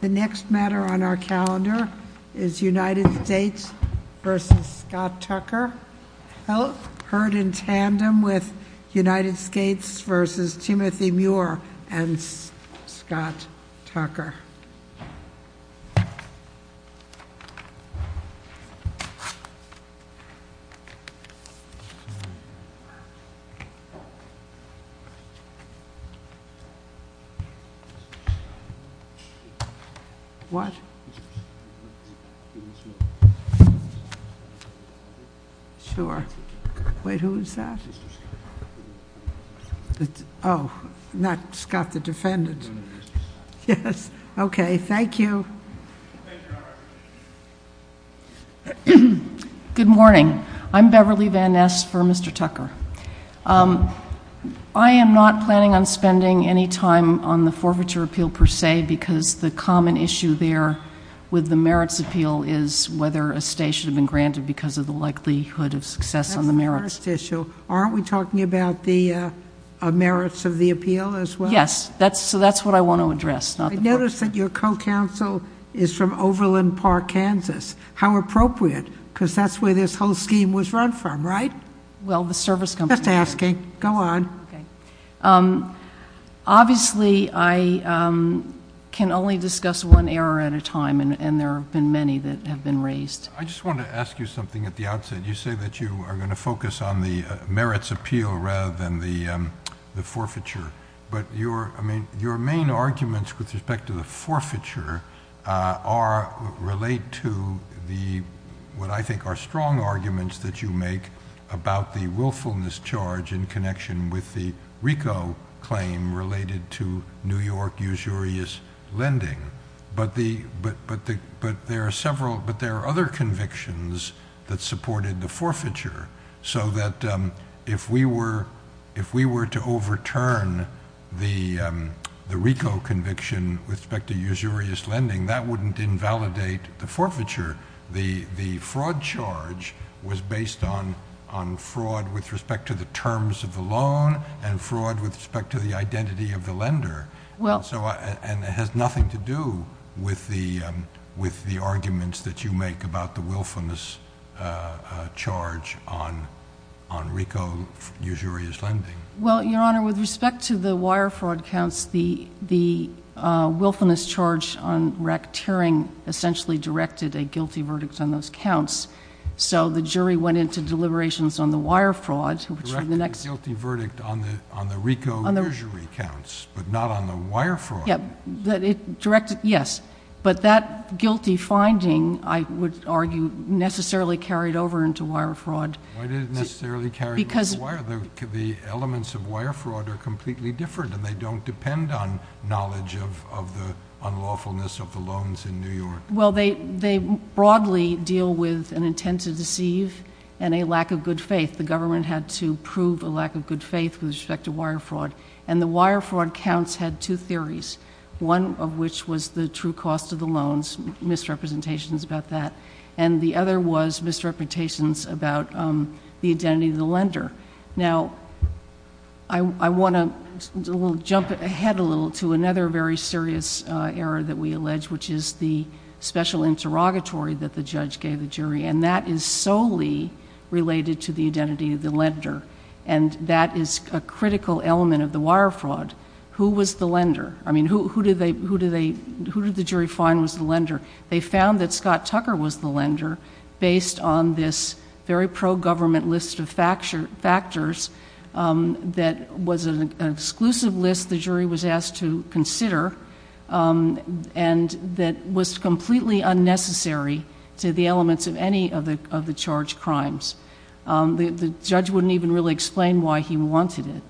The next matter on our calendar is United States v. Scott Tucker, held in tandem with Beverly Van Ness for Mr. Tucker. I am not planning on spending any time on the forfeiture appeal per se, because the common issue there with the merits appeal is whether a stay should have been granted because of the likelihood of success on the merits. That's the first issue. Aren't we talking about the merits of the appeal as well? Yes. So that's what I want to address. I notice that your co-counsel is from Overland Park, Kansas. How appropriate, because that's where this whole scheme was run from, right? Well, the service company. Just asking. Go on. Obviously, I can only discuss one error at a time, and there have been many that have been raised. I just want to ask you something at the outset. You say that you are going to focus on the merits appeal rather than the forfeiture, but your main arguments with respect to the forfeiture relate to what I think are strong arguments that you make about the willfulness charge in connection with the RICO claim related to New York usurious lending. But there are other convictions that supported the forfeiture, so that if we were to overturn the RICO conviction with respect to usurious lending, that wouldn't invalidate the forfeiture. The fraud charge was based on fraud with respect to the terms of the loan and fraud with respect to the identity of the lender, and it has nothing to do with the arguments that you make about the willfulness charge on RICO usurious lending. Well, Your Honor, with respect to the wire fraud counts, the willfulness charge on Rack Tearing essentially directed a guilty verdict on those counts, so the jury went into deliberations on the wire fraud, which were the next— Directed a guilty verdict on the RICO usury counts, but not on the wire fraud. Yes. But that guilty finding, I would argue, necessarily carried over into wire fraud. Why did it necessarily carry over into wire? The elements of wire fraud are completely different, and they don't depend on knowledge of the unlawfulness of the loans in New York. Well, they broadly deal with an intent to deceive and a lack of good faith. The government had to prove a lack of good faith with respect to wire fraud, and the wire fraud counts had two theories, one of which was the true cost of the loans, misrepresentations about that, and the other was misrepresentations about the identity of the lender. Now, I want to jump ahead a little to another very serious error that we allege, which is the special interrogatory that the judge gave the jury, and that is solely related to the identity of the lender, and that is a critical element of the wire fraud. Who was the lender? I mean, who did the jury find was the lender? They found that Scott was the lender, based on this very pro-government list of factors that was an exclusive list the jury was asked to consider, and that was completely unnecessary to the elements of any of the charged crimes. The judge wouldn't even really explain why he wanted it,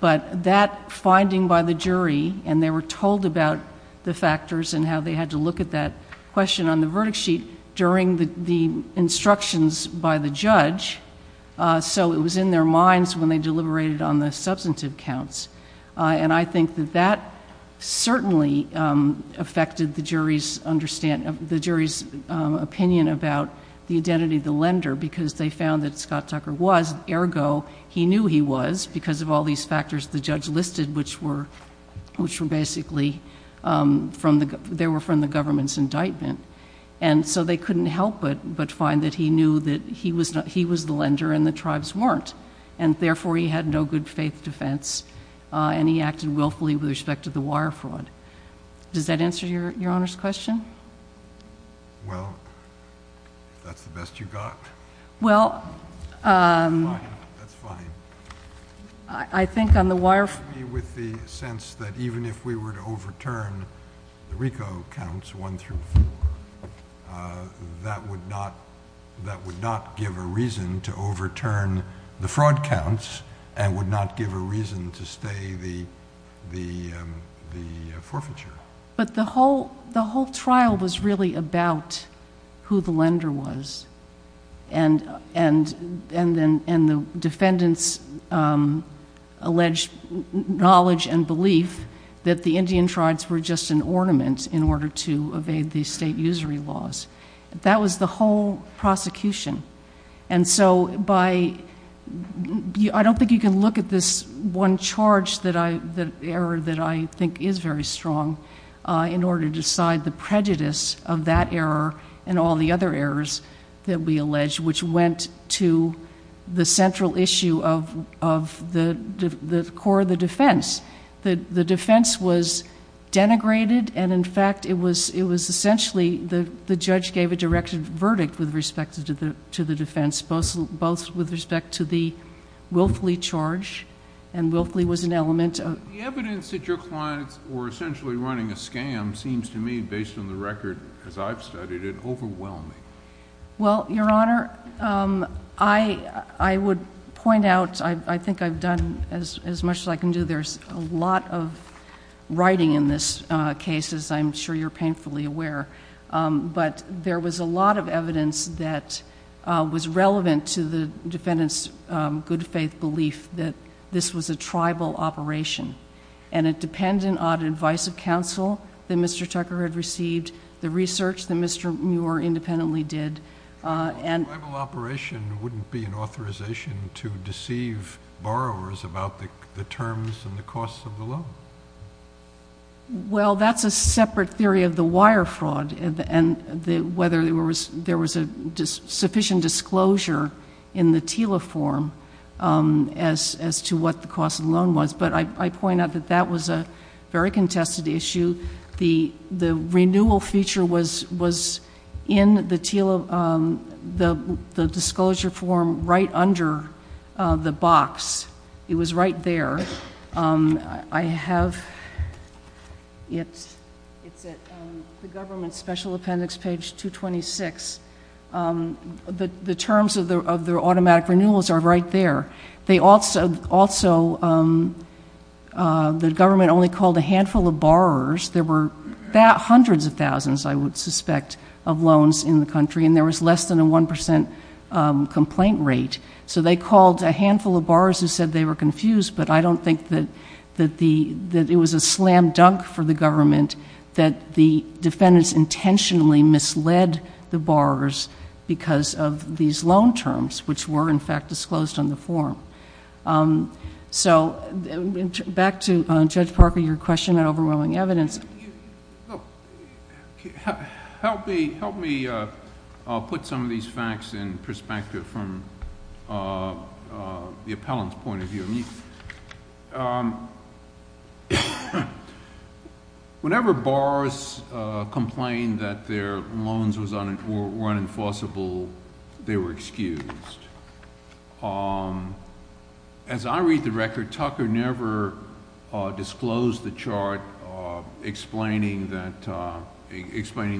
but that finding by the jury, and they were told about the factors and how they had to look at that question on the verdict sheet during the instructions by the judge, so it was in their minds when they deliberated on the substantive counts, and I think that that certainly affected the jury's opinion about the identity of the lender, because they found that Scott Tucker was, ergo, he knew he was, because of all these factors the judge listed, which were basically, they were from the government's indictment, and so they couldn't help but find that he knew that he was the lender and the tribes weren't, and therefore he had no good faith defense, and he acted willfully with respect to the wire fraud. Does that answer your Honor's question? Well, if that's the best you got. Well, I think with the sense that even if we were to overturn the RICO counts one through four, that would not give a reason to overturn the fraud counts and would not give a reason to stay the forfeiture. But the whole trial was really about who the lender was, and the defendant's alleged knowledge and belief that the Indian tribes were just an ornament in order to evade the state usury laws. That was the whole prosecution, and so I don't think you can look at this one charge, the error that I think is very strong, in order to decide the prejudice of that error and all the other errors that we alleged, which went to the central issue of the core of the defense. The defense was denigrated, and in fact it was essentially the judge gave a directed verdict with respect to the defense, both with respect to the willfully charge, and willfully was an element of... The evidence that your clients were essentially running a scam seems to me, based on the record as I've studied it, overwhelming. Well, Your Honor, I would point out, I think I've done as much as I can do. There's a lot of writing in this case, as I'm sure you're painfully aware, but there was a lot of evidence that was relevant to the defendant's good faith belief that this was a tribal operation, and it depended on advice of counsel that Mr. Tucker had received, the research that Mr. Muir independently did. A tribal operation wouldn't be an authorization to deceive borrowers about the terms and the costs of the loan. Well, that's a separate theory of the wire fraud, and whether there was a sufficient disclosure in the TILA form as to what the cost of the loan was, but I point out that that was a contested issue. The renewal feature was in the disclosure form right under the box. It was right there. It's at the government's special appendix, page 226. The terms of the automatic renewals are right there. They also, the government only called a handful of borrowers. There were hundreds of thousands, I would suspect, of loans in the country, and there was less than a 1% complaint rate. So they called a handful of borrowers who said they were confused, but I don't think that it was a slam dunk for the government that the defendants intentionally misled the borrowers because of these loan terms, which were, in fact, disclosed on the form. So back to Judge Parker, your question on overwhelming evidence. Help me put some of these facts in perspective from the appellant's point of view. Whenever borrowers complained that their loans were unenforceable, they were excused. As I read the record, Tucker never disclosed the chart explaining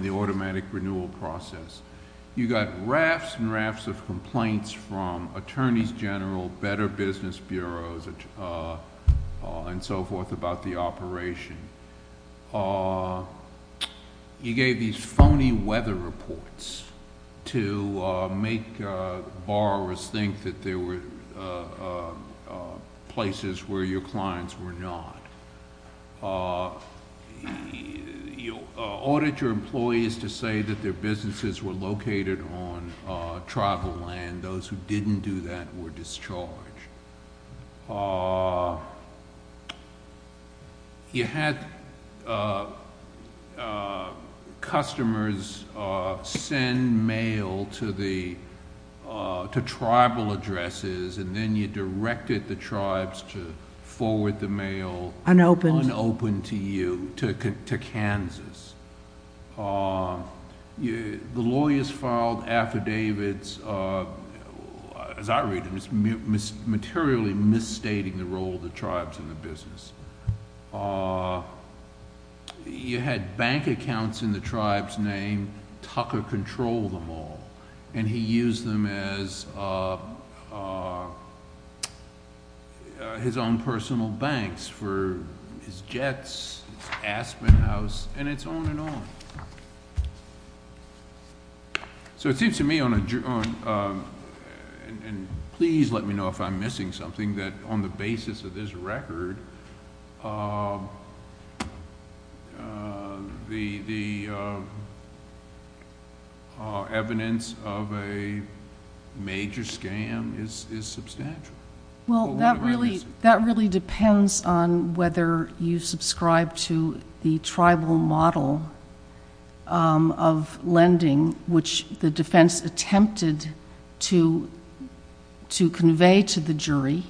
the automatic renewal process. You got rafts and rafts of complaints from attorneys general, better business bureaus, and so forth about the operation. You gave these phony weather reports to make borrowers think that there were places where your clients were not. You audited your employees to say that their clients were located on tribal land. Those who didn't do that were discharged. You had customers send mail to tribal addresses, and then you directed the tribes to file affidavits, as I read them, materially misstating the role of the tribes in the business. You had bank accounts in the tribe's name. Tucker controlled them all, and he used them as his own personal banks for his Jets, his Aspen House, and it's on and on. So it seems to me, and please let me know if I'm missing something, that on the basis of this major scam is substantial. What am I missing? Well, that really depends on whether you subscribe to the tribal model of lending, which the defense attempted to convey to the jury,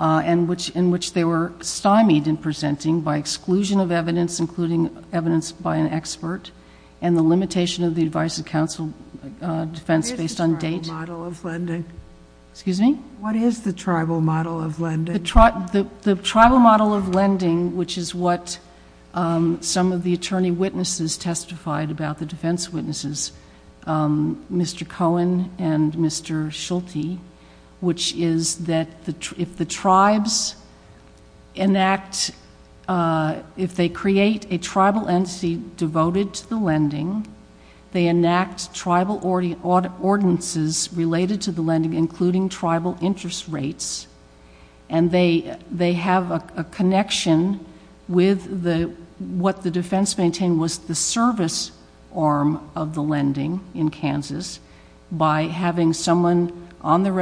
in which they were stymied in presenting by exclusion of evidence, including evidence by an expert, and the limitation of the tribal model of lending, which is what some of the attorney witnesses testified about, the defense witnesses, Mr. Cohen and Mr. Schulte, which is that if the tribes enact—if they create a tribal entity devoted to the lending, they enact tribal ordinances related to the lending, including tribal interest rates, and they have a connection with what the defense maintained was the service arm of the lending in Kansas by having someone on the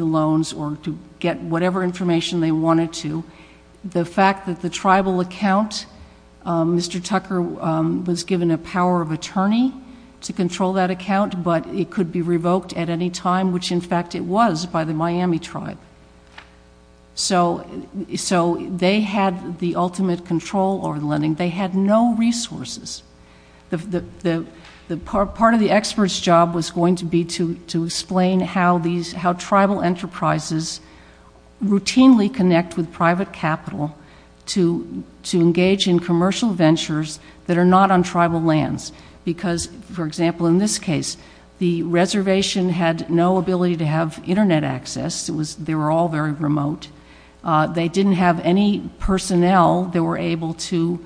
loans or to get whatever information they wanted to. The fact that the tribal account, Mr. Tucker was given a power of attorney to control that account, but it could be revoked at any time, which in fact it was by the Miami tribe. So they had the ultimate control over the lending. They had no resources. Part of the expert's job was going to be to explain how tribal enterprises routinely connect with private capital to engage in commercial ventures that are not on tribal lands because, for example, in this case, the reservation had no ability to have internet access. They were all very remote. They didn't have any personnel that were able to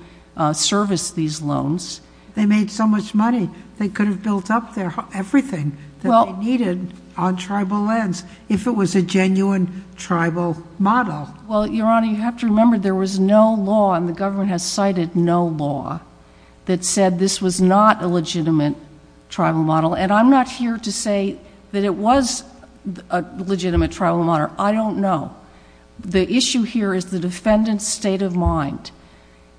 service these loans. They made so much money. They could have built up there everything that they needed on tribal lands if it was a genuine tribal model. Well, Your Honor, you have to remember there was no law, and the government has cited no law, that said this was not a legitimate tribal model, and I'm not here to say that it was a legitimate tribal model. I don't know. The issue here is the defendant's state of mind,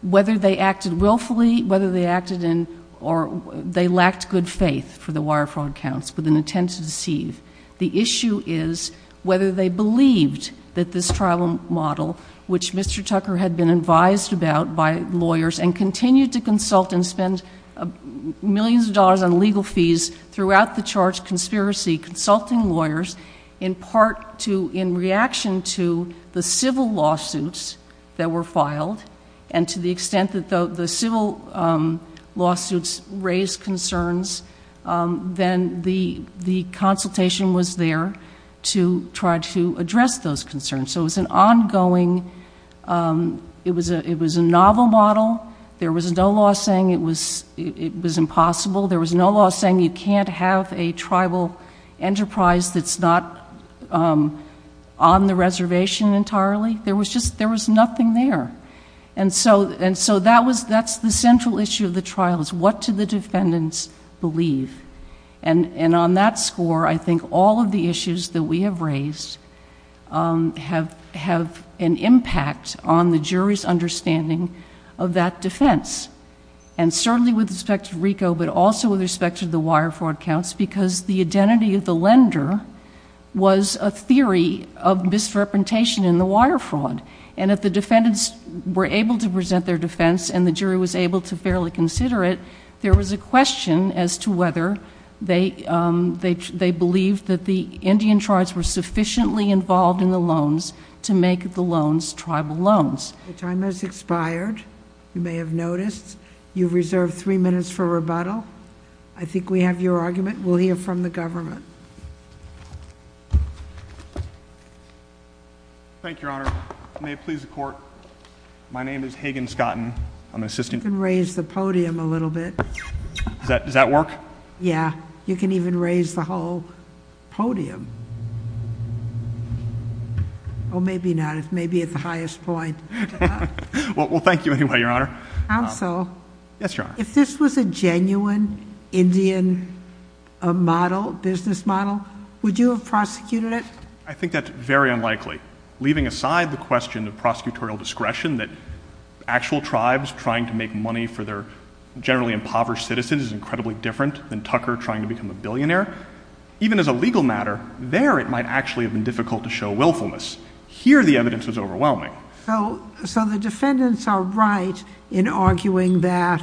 whether they acted willfully, whether they acted in or they lacked good faith for the wire fraud accounts with an intent to deceive. The issue is whether they believed that this tribal model, which Mr. Tucker had been advised about by lawyers and continued to consult and spend millions of dollars on legal fees throughout the charge conspiracy, consulting lawyers in part in reaction to the civil lawsuits that were filed and to the extent that the civil lawsuits raised concerns, then the consultation was there to try to address those concerns. So it was an ongoing, it was a novel model. There was no law saying it was impossible. There was no law saying you can't have a tribal enterprise that's not on the reservation entirely. There was nothing there. And so that's the central issue of the trial, is what do the defendants believe? And on that score, I think all of the issues that we have raised have an impact on the jury's understanding of that defense. And certainly with respect to the wire fraud accounts, because the identity of the lender was a theory of misrepresentation in the wire fraud. And if the defendants were able to present their defense and the jury was able to fairly consider it, there was a question as to whether they believed that the Indian tribes were sufficiently involved in the loans to make the loans tribal loans. Your time has expired. You may have noticed you've reserved three minutes for rebuttal. I think we have your argument. We'll hear from the government. Thank you, Your Honor. May it please the court. My name is Hagen Scotton. I'm an assistant. You can raise the podium a little bit. Does that work? Yeah. You can even raise the whole podium. Oh, maybe not. It's maybe at the highest point. Well, thank you anyway, Your Honor. I'm so. Yes, Your Honor. If this was a genuine Indian model, business model, would you have prosecuted it? I think that's very unlikely. Leaving aside the question of prosecutorial discretion that actual tribes trying to make money for their generally impoverished citizens is incredibly different than Tucker trying to become a billionaire. Even as a legal matter, there it might actually have been difficult to show willfulness. Here, the evidence was overwhelming. So the defendants are right in arguing that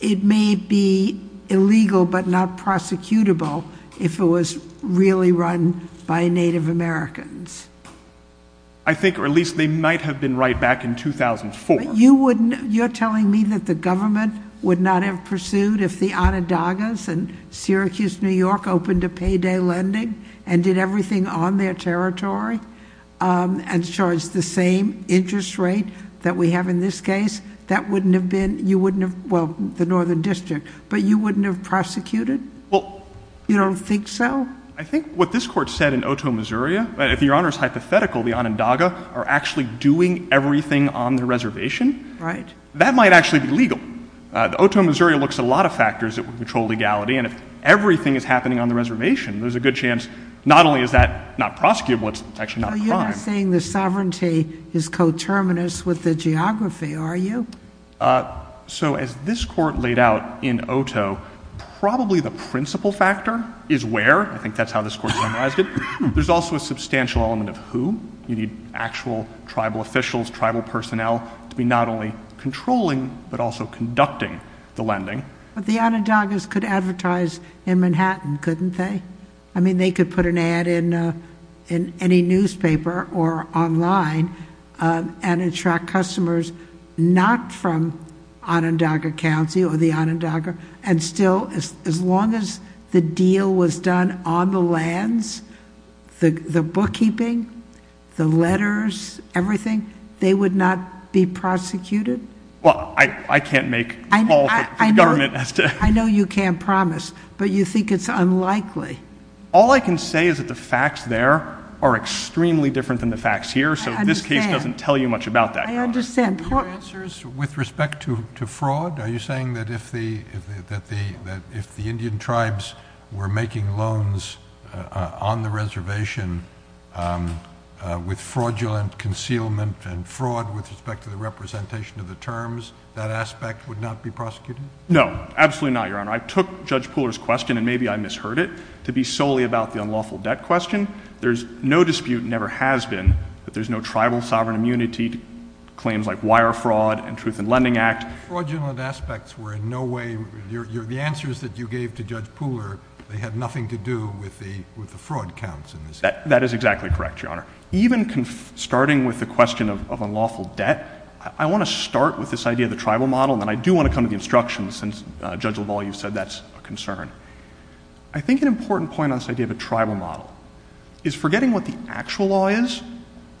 it may be illegal but not prosecutable if it was really run by Native Americans. I think or at least they might have been right back in 2004. You're telling me that the government would not have pursued if the Onondagas and Syracuse, New York opened a payday lending and did everything on their territory and charged the same interest rate that we have in this case? That wouldn't have been, you wouldn't have, well, the Northern District, but you wouldn't have prosecuted? You don't think so? I think what this court said in Otoe, Missouri, if Your Honor's hypothetical, the Onondaga are actually doing everything on the reservation. Right. That might actually be legal. Otoe, Missouri looks at a lot of factors that would control legality and if everything is happening on the reservation, there's a good chance not only is that not prosecutable, it's actually not a crime. You're not saying the sovereignty is coterminous with the geography, are you? So as this court laid out in Otoe, probably the principal factor is where, I think that's how this court summarized it. There's also a substantial element of who. You need actual tribal officials, tribal personnel to be not only controlling but also conducting the lending. But the Onondagas could advertise in Manhattan, couldn't they? I mean, they could put an ad in any newspaper or online and attract customers not from Onondaga County or the Onondaga. And still, as long as the deal was done on the lands, the bookkeeping, the letters, everything, they would not be prosecuted? Well, I can't make a call for the government as to... I know you can't promise, but you think it's unlikely. All I can say is that the facts there are extremely different than the facts here. I understand. So this case doesn't tell you much about that. I understand. Your answers with respect to fraud, are you saying that if the Indian tribes were making loans on the reservation with fraudulent concealment and fraud with respect to the representation of the terms, that aspect would not be prosecuted? No, absolutely not, Your Honor. I took Judge Pooler's question, and maybe I misheard it, to be solely about the unlawful debt question. There's no dispute, never has been, that there's no tribal sovereign immunity claims like wire fraud and Truth in Lending Act. Fraudulent aspects were in no way... The answers that you gave to Judge Pooler, they had nothing to do with the fraud counts in this case. That is exactly correct, Your Honor. Even starting with the question of unlawful debt, I want to start with this idea of the tribal model, and then I do want to come to the instructions, since Judge Lavalle, you said that's a concern. I think an important point on this idea of a tribal model is forgetting what the actual law is,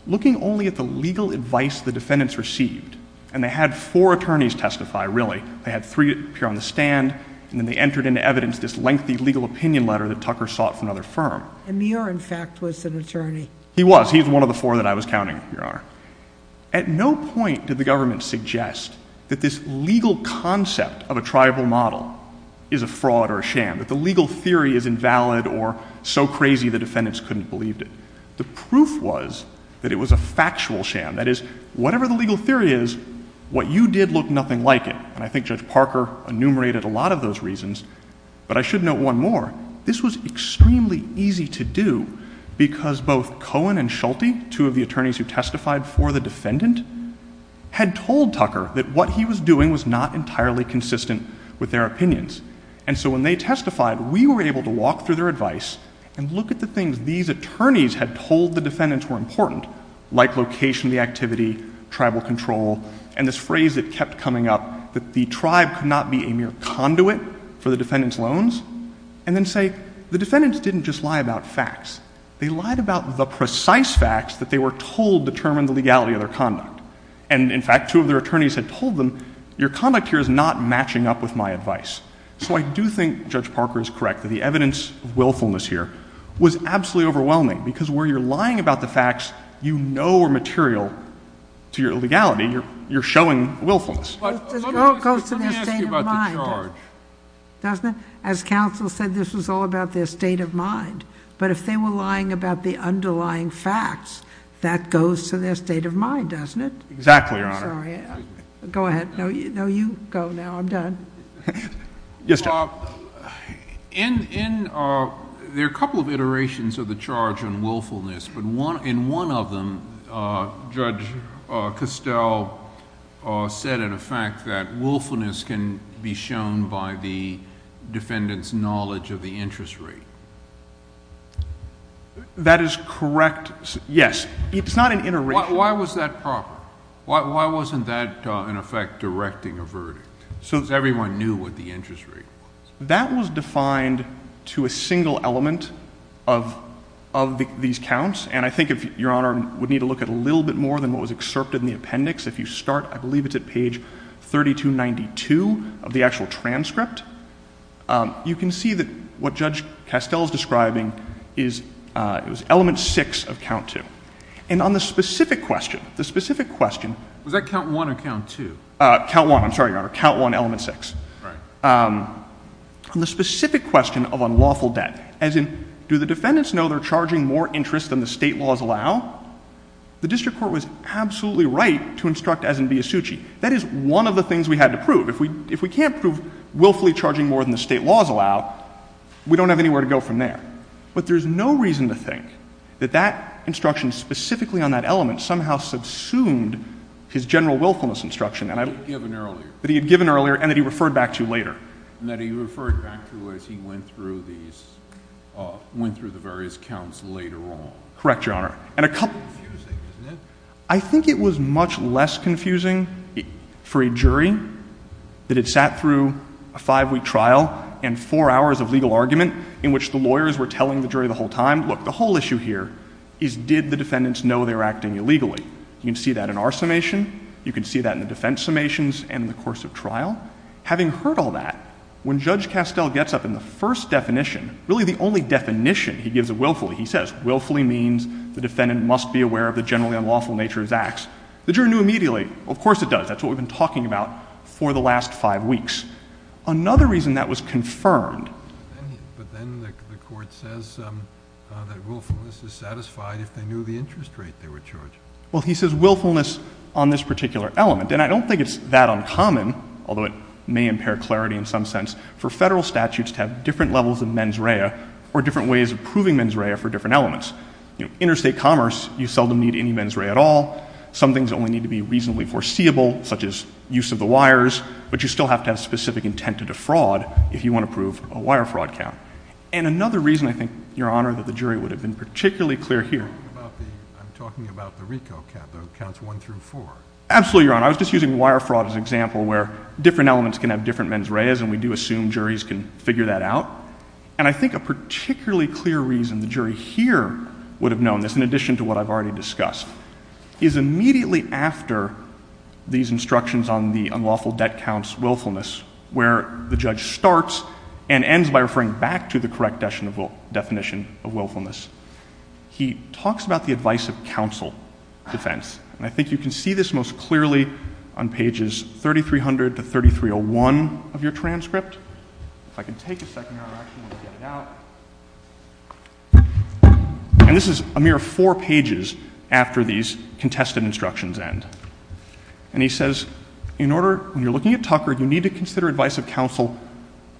looking only at the legal advice the defendants received. And they had four attorneys testify, really. They had three appear on the stand, and then they entered into evidence this lengthy legal opinion letter that Tucker sought from another firm. Amir, in fact, was an attorney. At no point did the government suggest that this legal concept of a tribal model is a fraud or a sham, that the legal theory is invalid or so crazy the defendants couldn't believe it. The proof was that it was a factual sham. That is, whatever the legal theory is, what you did looked nothing like it. And I think Judge Parker enumerated a lot of those reasons. But I should note one more. This was extremely easy to do because both Cohen and Schulte, two of the attorneys who testified for the defendant, had told Tucker that what he was doing was not entirely consistent with their opinions. And so when they testified, we were able to walk through their advice and look at the things these attorneys had told the defendants were important, like location of the activity, tribal control, and this phrase that kept coming up that the tribe could not be a mere conduit for the defendant's loans, and then say, the defendants didn't just lie about facts. They lied about the precise facts that they were told determined the legality of their conduct. And in fact, two of their attorneys had told them, your conduct here is not matching up with my advice. So I do think Judge Parker is correct that the evidence of willfulness here was absolutely overwhelming because where you're lying about the facts you know are material to your legality, you're showing willfulness. It all goes to their state of mind, doesn't it? As counsel said, this was all about their state of mind. But if they were lying about the underlying facts, that goes to their state of mind, doesn't it? Exactly, Your Honor. I'm sorry. Go ahead. No, you go now. I'm done. Yes, Your Honor. There are a couple of iterations of the charge on willfulness, but in one of them, Judge Costell said in effect that willfulness can be shown by the defendant's knowledge of the interest rate. That is correct. Yes. It's not an iteration. Why was that proper? Why wasn't that, in effect, directing a verdict? Because everyone knew what the interest rate was. That was defined to a single element of these counts. And I think, Your Honor, we'd need to look at a little bit more than what was excerpted in the appendix. If you start, I believe it's at page 3292 of the actual transcript, you can see that what Judge Costell is describing is element six of count two. And on the specific question, the specific question... Was that count one or count two? Count one, I'm sorry, Your Honor. Count one, element six. On the specific question of unlawful debt, as in, do the defendants know they're charging more interest than the state laws allow, the district court was absolutely right to instruct as in Biasucci. That is one of the things we had to prove. If we can't prove willfully charging more than the state laws allow, we don't have anywhere to go from there. But there's no reason to think that that instruction specifically on that element somehow subsumed his general willfulness instruction. That he had given earlier. That he had given earlier and that he referred back to later. And that he referred back to as he went through these, went through the various counts later on. Correct, Your Honor. And a couple... Confusing, isn't it? I think it was much less confusing for a jury that had sat through a five-week trial and four hours of legal argument in which the lawyers were telling the jury the whole time, look, the whole issue here is did the defendants know they were acting illegally? You can see that in our summation. You can see that in the defense summations and the course of trial. Having heard all that, when Judge Castell gets up in the first definition, really the only definition he gives of willfully, he says willfully means the defendant must be aware of the generally unlawful nature of his acts. The jury knew immediately. Of course it does. That's what we've been talking about for the last five weeks. Another reason that was confirmed... But then the court says that willfulness is satisfied if they knew the interest rate they were charging. Well, he says willfulness on this particular element. And I don't think it's that uncommon, although it may impair clarity in some sense, for federal statutes to have different levels of mens rea or different ways of proving mens rea for different elements. Interstate commerce, you seldom need any mens rea at all. Some things only need to be reasonably foreseeable, such as use of the wires. But you still have to have specific intent to defraud if you want to prove a wire fraud count. And another reason, I think, Your Honor, that the jury would have been particularly clear here... I'm talking about the RICO count, the counts one through four. Absolutely, Your Honor. I was just using wire fraud as an example where different elements can have different mens reas, and we do assume juries can figure that out. And I think a particularly clear reason the jury here would have known this, in addition to what I've already discussed, is immediately after these instructions on the unlawful debt counts willfulness, where the judge starts and ends by referring back to the correct definition of willfulness. He talks about the advice of counsel defense. And I think you can see this most clearly on pages 3300 to 3301 of your transcript. If I can take a second, Your Honor, I actually want to get it out. And this is a mere four pages after these contested instructions end. And he says, in order, when you're looking at Tucker, you need to consider advice of counsel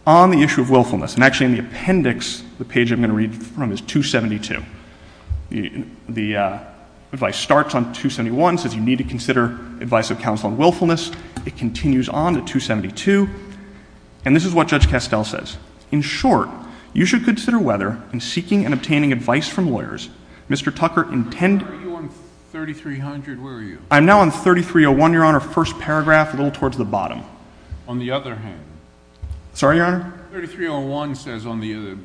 on the issue of willfulness. And actually, in the appendix, the page I'm going to read from is 272. The advice starts on 271, says you need to consider advice of counsel on willfulness. It continues on to 272. And this is what Judge Castell says. In short, you should consider whether, in seeking and obtaining advice from lawyers, Mr. Tucker intended— Where were you on 3300? Where were you? I'm now on 3301, Your Honor, first paragraph, a little towards the bottom. On the other hand— Sorry, Your Honor? 3301 says on the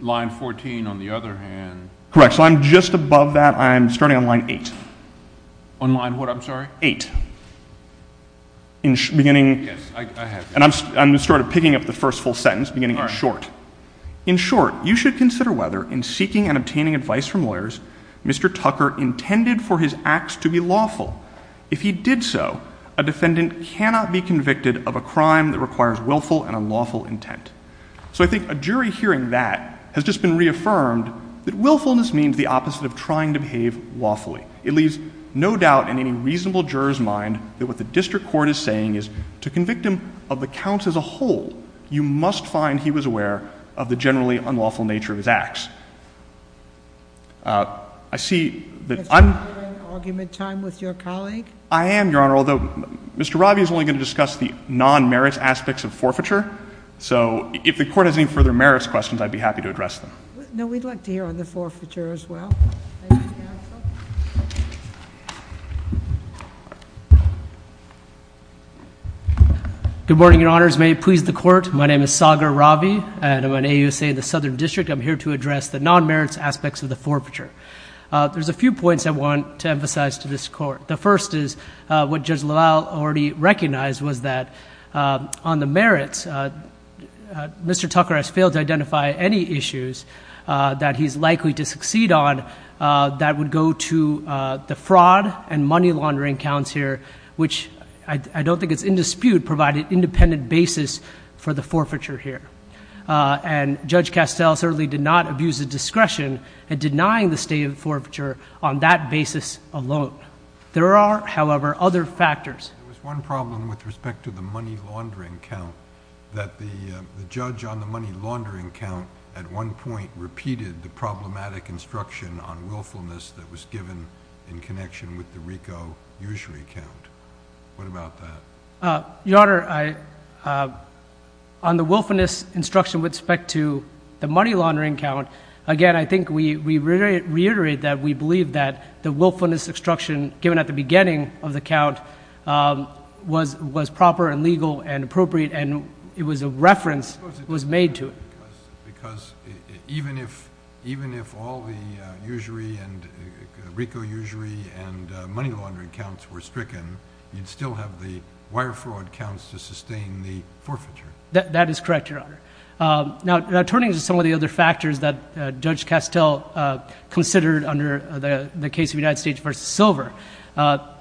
line 14, on the other hand— Correct. So I'm just above that. I'm starting on line 8. On line what, I'm sorry? 8. Beginning— Yes, I have it. And I'm just sort of picking up the first full sentence, beginning in short. In short, you should consider whether, in seeking and obtaining advice from lawyers, Mr. Tucker intended for his acts to be lawful. If he did so, a defendant cannot be convicted of a crime that requires willful and unlawful intent. So I think a jury hearing that has just been reaffirmed that willfulness means the opposite of trying to behave lawfully. It leaves no doubt in any reasonable juror's mind that what the district court is saying is, to convict him of the counts as a whole, you must find he was aware of the generally unlawful nature of his acts. I see that I'm— Are you having argument time with your colleague? I am, Your Honor, although Mr. Robbie is only going to discuss the If the court has any further merits questions, I'd be happy to address them. No, we'd like to hear on the forfeiture as well. Good morning, Your Honors. May it please the court, my name is Sagar Ravi, and I'm an AUSA in the Southern District. I'm here to address the non-merits aspects of the forfeiture. There's a few points I want to emphasize to this court. The first is what Judge LaValle already recognized was that on the merits, Mr. Tucker has failed to identify any issues that he's likely to succeed on that would go to the fraud and money laundering counts here, which I don't think it's in dispute, provide an independent basis for the forfeiture here. And Judge Castell certainly did not abuse the discretion in denying the state of forfeiture on that basis alone. There are, however, other factors. There was one problem with respect to the money laundering count that the judge on the money laundering count at one point repeated the problematic instruction on willfulness that was given in connection with the RICO usury count. What about that? Your Honor, on the willfulness instruction with respect to the money laundering count, again, I think we reiterate that we believe that the willfulness instruction given at the beginning of the count was proper and legal and appropriate, and it was a reference that was made to it. Because even if all the usury and RICO usury and money laundering counts were stricken, you'd still have the wire fraud counts to sustain the forfeiture. That is correct, Your Honor. Now, turning to some of the other factors that Judge Castell considered under the case of United States v. Silver,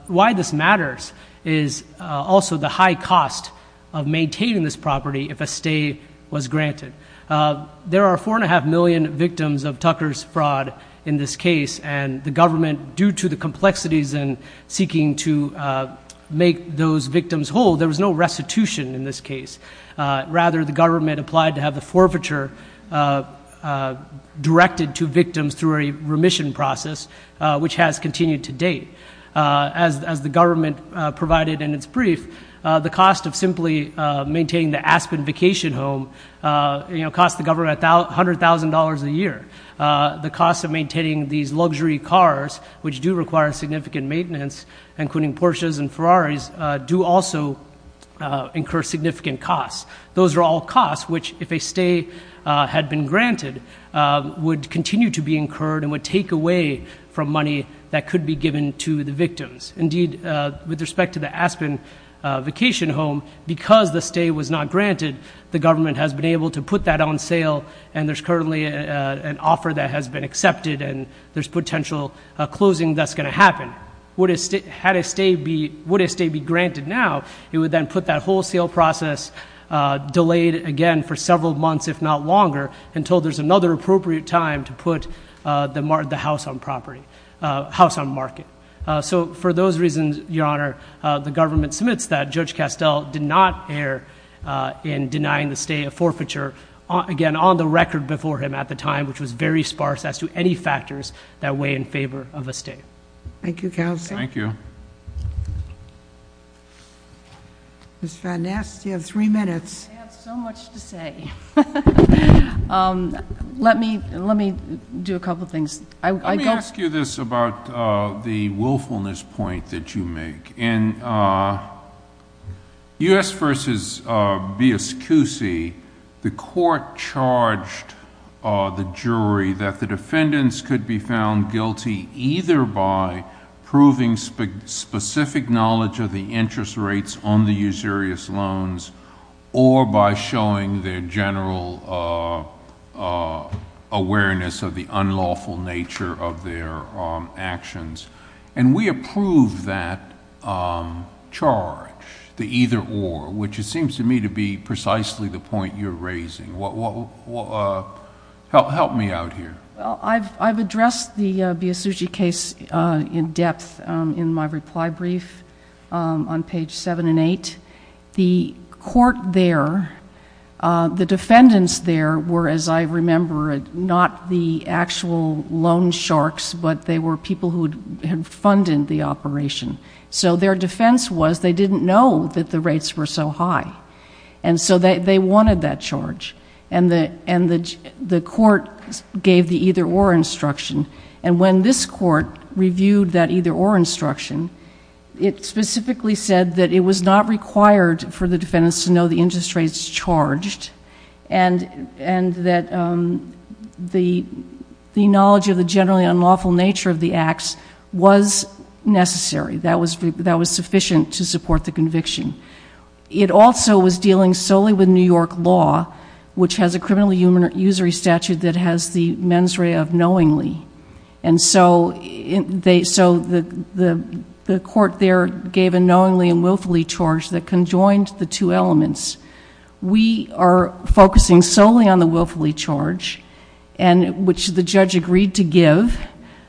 why this matters is also the high cost of maintaining this property if a stay was granted. There are 4.5 million victims of Tucker's fraud in this case, and the government, due to the complexities in seeking to make those victims whole, there was no restitution in this case. Rather, the government applied to have the forfeiture directed to victims through a remission process, which has continued to date. As the government provided in its brief, the cost of simply maintaining the Aspen vacation home cost the government $100,000 a year. The cost of maintaining these luxury cars, which do require significant maintenance, including Porsches and Ferraris, do also incur significant costs. Those are all costs which, if a stay had been granted, would continue to be incurred and would take away from money that could be given to the victims. Indeed, with respect to the Aspen vacation home, because the stay was not granted, the government has been able to put that on sale, and there's currently an offer that has been accepted, and there's potential closing that's going to happen. Would a stay be granted now, it would then put that wholesale process delayed again for several months, if not longer, until there's another appropriate time to put the house on market. For those reasons, Your Honor, the government submits that. Judge Castell did not err in denying the stay a forfeiture, again, on the record before him at the time, which was very sparse as to any factors that weigh in favor of a stay. Thank you, Counsel. Thank you. Ms. Van Ness, you have three minutes. I have so much to say. Let me do a couple of things. Let me ask you this about the willfulness point that you make. In U.S. v. Biascusi, the court charged the jury that the defendants could be found guilty either by proving specific knowledge of the interest rates on the usurious loans or by showing their charge, the either or, which it seems to me to be precisely the point you're raising. Help me out here. I've addressed the Biascusi case in depth in my reply brief on page seven and eight. The court there, the defendants there were, as I remember it, not the actual loan sharks, but they were people who had funded the operation. Their defense was they didn't know that the rates were so high. They wanted that charge. The court gave the either or instruction. When this court reviewed that either or instruction, it specifically said that it was not required for the defendants to know the interest rates charged and that the knowledge of the generally unlawful nature of the acts was necessary. That was sufficient to support the conviction. It also was dealing solely with New York law, which has a criminal usury statute that has the mens rea of knowingly. The court there gave a knowingly and willfully charge that conjoined the two elements. We are focusing solely on the willfully charge, which the judge agreed to give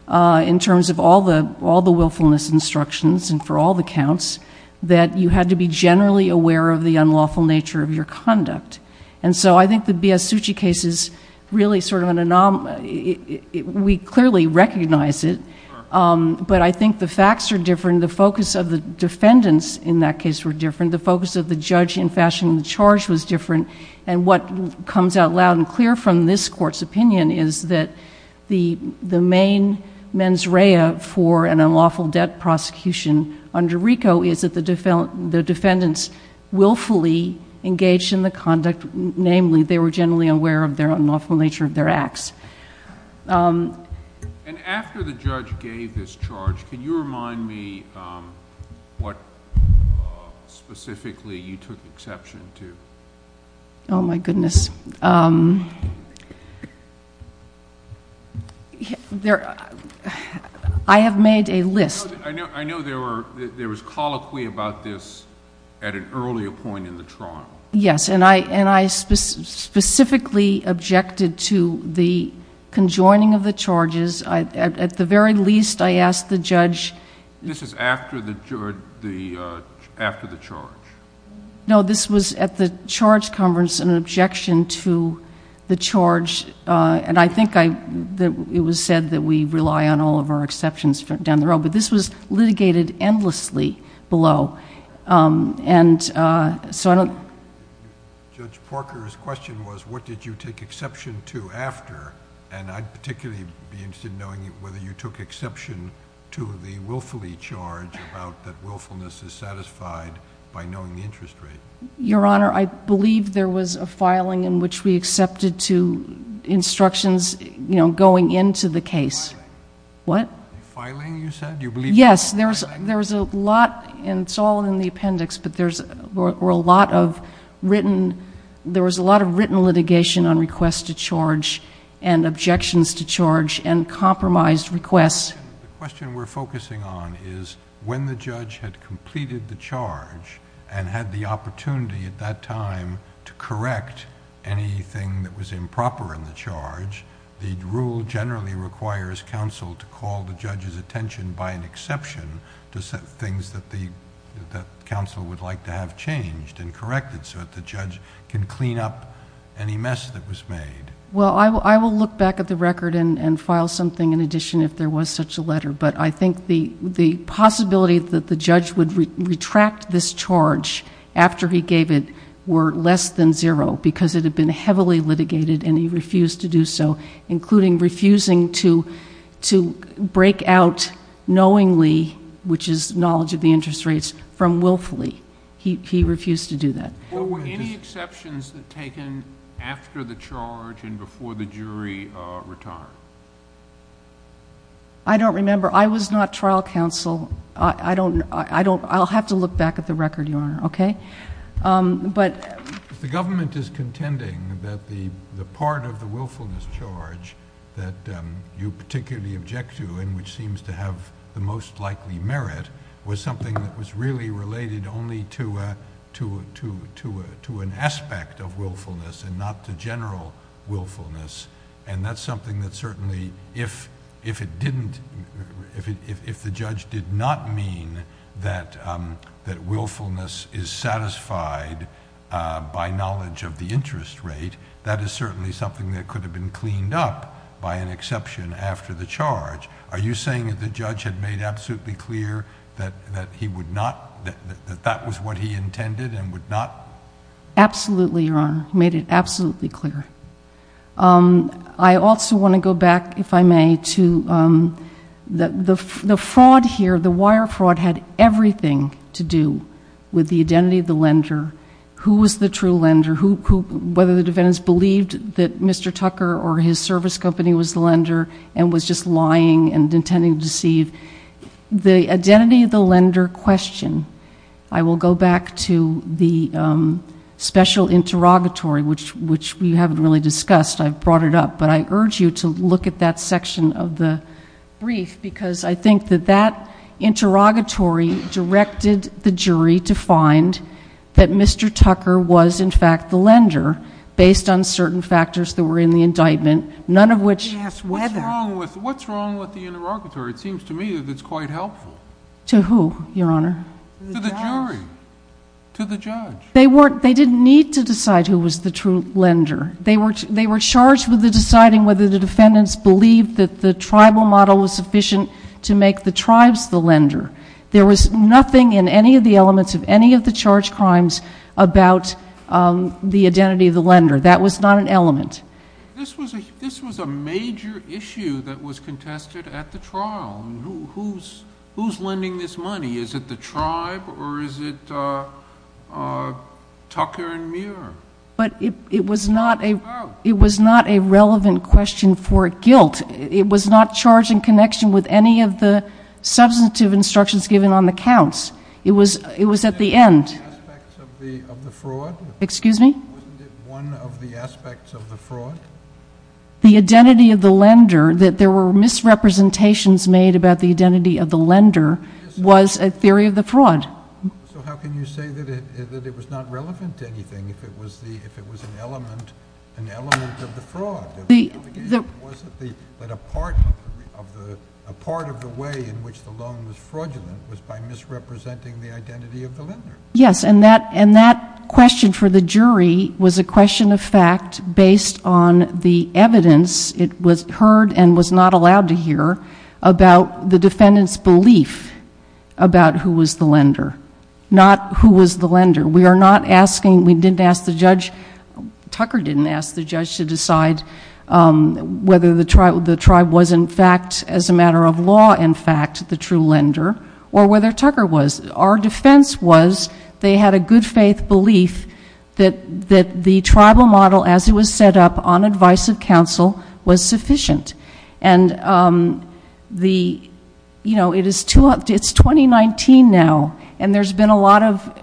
in terms of all the willfulness instructions and for all the counts, that you had to be generally aware of the unlawful nature of your conduct. I think the Biascusi case is really an anomaly. We clearly recognize it, but I think the facts are different. The focus of the defendants in that case were different. The focus of the judge in fashioning the charge was different. What comes out loud and clear from this court's opinion is that the main mens rea for an unlawful debt prosecution under RICO is that the defendants willfully engaged in the conduct, namely they were generally aware of their unlawful nature of their acts. After the judge gave this charge, can you remind me what specifically you took exception to? Oh, my goodness. I have made a list. I know there was colloquy about this at an earlier point in the trial. Yes, and I specifically objected to the conjoining of the charges. At the very least, I asked the judge... This is after the charge? No, this was at the charge conference, an objection to the charge. I think it was said that we rely on all of our exceptions down the road, but this was litigated endlessly below. Judge Porker's question was, what did you take exception to after? I'd particularly be interested in knowing whether you took exception to the willfully charge about that willfulness is satisfied by knowing the interest rate. Your Honor, I believe there was a filing in which we accepted to instructions going into the case. Filing? What? Filing, you said? Yes, there was a lot, and it's all in the appendix, but there was a lot of written litigation on requests to charge and objections to charge and compromised requests. The question we're focusing on is when the judge had completed the charge and had the opportunity at that time to correct anything that was improper in the charge, the rule generally requires counsel to call the judge's attention by an exception to things that the counsel would like to have changed and corrected so that the judge can clean up any mess that was made. Well, I will look back at the record and file something in addition if there was such a letter, but I think the possibility that the judge would retract this charge after he gave it were less than zero because it had been heavily litigated and he refused to do so, including refusing to break out knowingly, which is knowledge of the interest from willfully. He refused to do that. Well, were any exceptions taken after the charge and before the jury retired? I don't remember. I was not trial counsel. I don't... I'll have to look back at the record, Your Honor. If the government is contending that the part of the willfulness charge that you particularly object to and which seems to have the most really related only to an aspect of willfulness and not to general willfulness, and that's something that certainly if it didn't... if the judge did not mean that willfulness is satisfied by knowledge of the interest rate, that is certainly something that could have been cleaned up by an exception after the charge. Are you saying that the judge had made absolutely clear that that was what he intended and would not... Absolutely, Your Honor. He made it absolutely clear. I also want to go back, if I may, to the fraud here. The wire fraud had everything to do with the identity of the lender, who was the true lender, whether the defendants believed that Mr. Tucker or his service company was the lender and was just lying and intending to deceive. The identity of the lender question, I will go back to the special interrogatory, which we haven't really discussed. I've brought it up, but I urge you to look at that section of the brief because I think that that interrogatory directed the jury to find that Mr. Tucker was in fact the lender based on the evidence. What's wrong with the interrogatory? It seems to me that it's quite helpful. To who, Your Honor? To the jury, to the judge. They didn't need to decide who was the true lender. They were charged with deciding whether the defendants believed that the tribal model was sufficient to make the tribes the lender. There was nothing in any of the elements of any of the charge crimes about the identity of the lender. That was not an element. This was a major issue that was contested at the trial. Who's lending this money? Is it the tribe or is it Tucker and Muir? But it was not a relevant question for guilt. It was not charged in connection with any of the substantive instructions given on the counts. It was at the Excuse me? Wasn't it one of the aspects of the fraud? The identity of the lender, that there were misrepresentations made about the identity of the lender, was a theory of the fraud. So how can you say that it was not relevant to anything if it was an element of the fraud? A part of the way in which the loan was fraudulent was by misrepresenting the identity of the lender. Yes, and that question for the jury was a question of fact based on the evidence. It was heard and was not allowed to hear about the defendant's belief about who was the lender, not who was the lender. We are not asking, we didn't ask the judge, Tucker didn't ask the judge to decide whether the tribe was in fact, as a matter of law in fact, the true lender or whether Tucker was. Our defense was they had a good faith belief that the tribal model as it was set up on advice of counsel was sufficient. It's 2019 now and there's been a lot of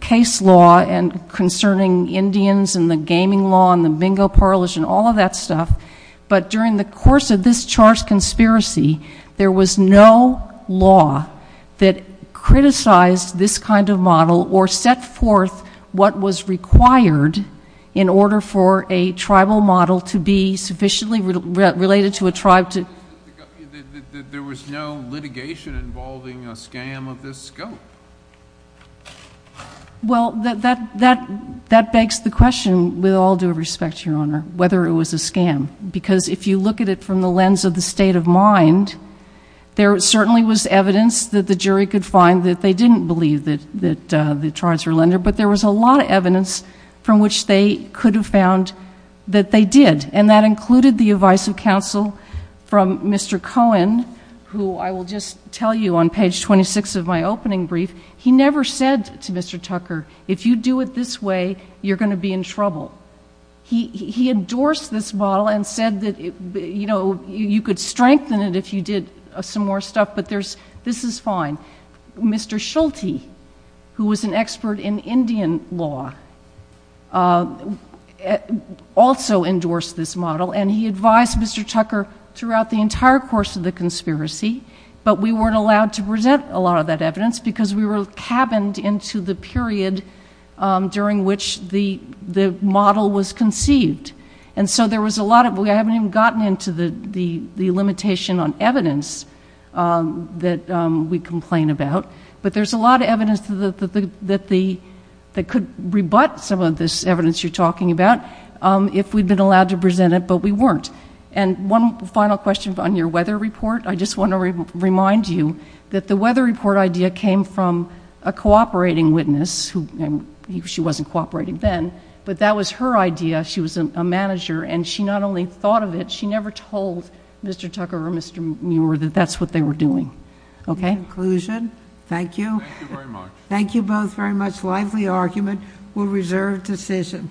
case law concerning Indians and the gaming law and the bingo parlors and all of that stuff. But during the course of this charged conspiracy, there was no law that criticized this kind of model or set forth what was required in order for a tribal model to be sufficiently related to a tribe to... There was no litigation involving a scam of this scope. Well, that begs the question with all due respect, Your Honor, whether it was a scam. Because if you look at it from the lens of the state of mind, there certainly was evidence that the jury could find that they didn't believe that the tribes were lender, but there was a lot of evidence from which they could have found that they did. And that included the advice of counsel from Mr. Cohen, who I will just tell you on page 26 of my opening brief, he never said to Mr. Tucker, you're in trouble. He endorsed this model and said that you could strengthen it if you did some more stuff, but this is fine. Mr. Schulte, who was an expert in Indian law, also endorsed this model and he advised Mr. Tucker throughout the entire course of the conspiracy, but we weren't allowed to present a lot of that evidence because we were cabined into the period during which the model was conceived. And so there was a lot of... We haven't even gotten into the limitation on evidence that we complain about, but there's a lot of evidence that could rebut some of this evidence you're talking about if we'd been allowed to present it, but we weren't. And one final question on your weather report. I just want to remind you that the weather report idea came from a cooperating witness who... She wasn't cooperating then, but that was her idea. She was a manager and she not only thought of it, she never told Mr. Tucker or Mr. Muir that that's what they were doing. Okay? Conclusion. Thank you. Thank you both very much. Lively argument. We'll reserve decision.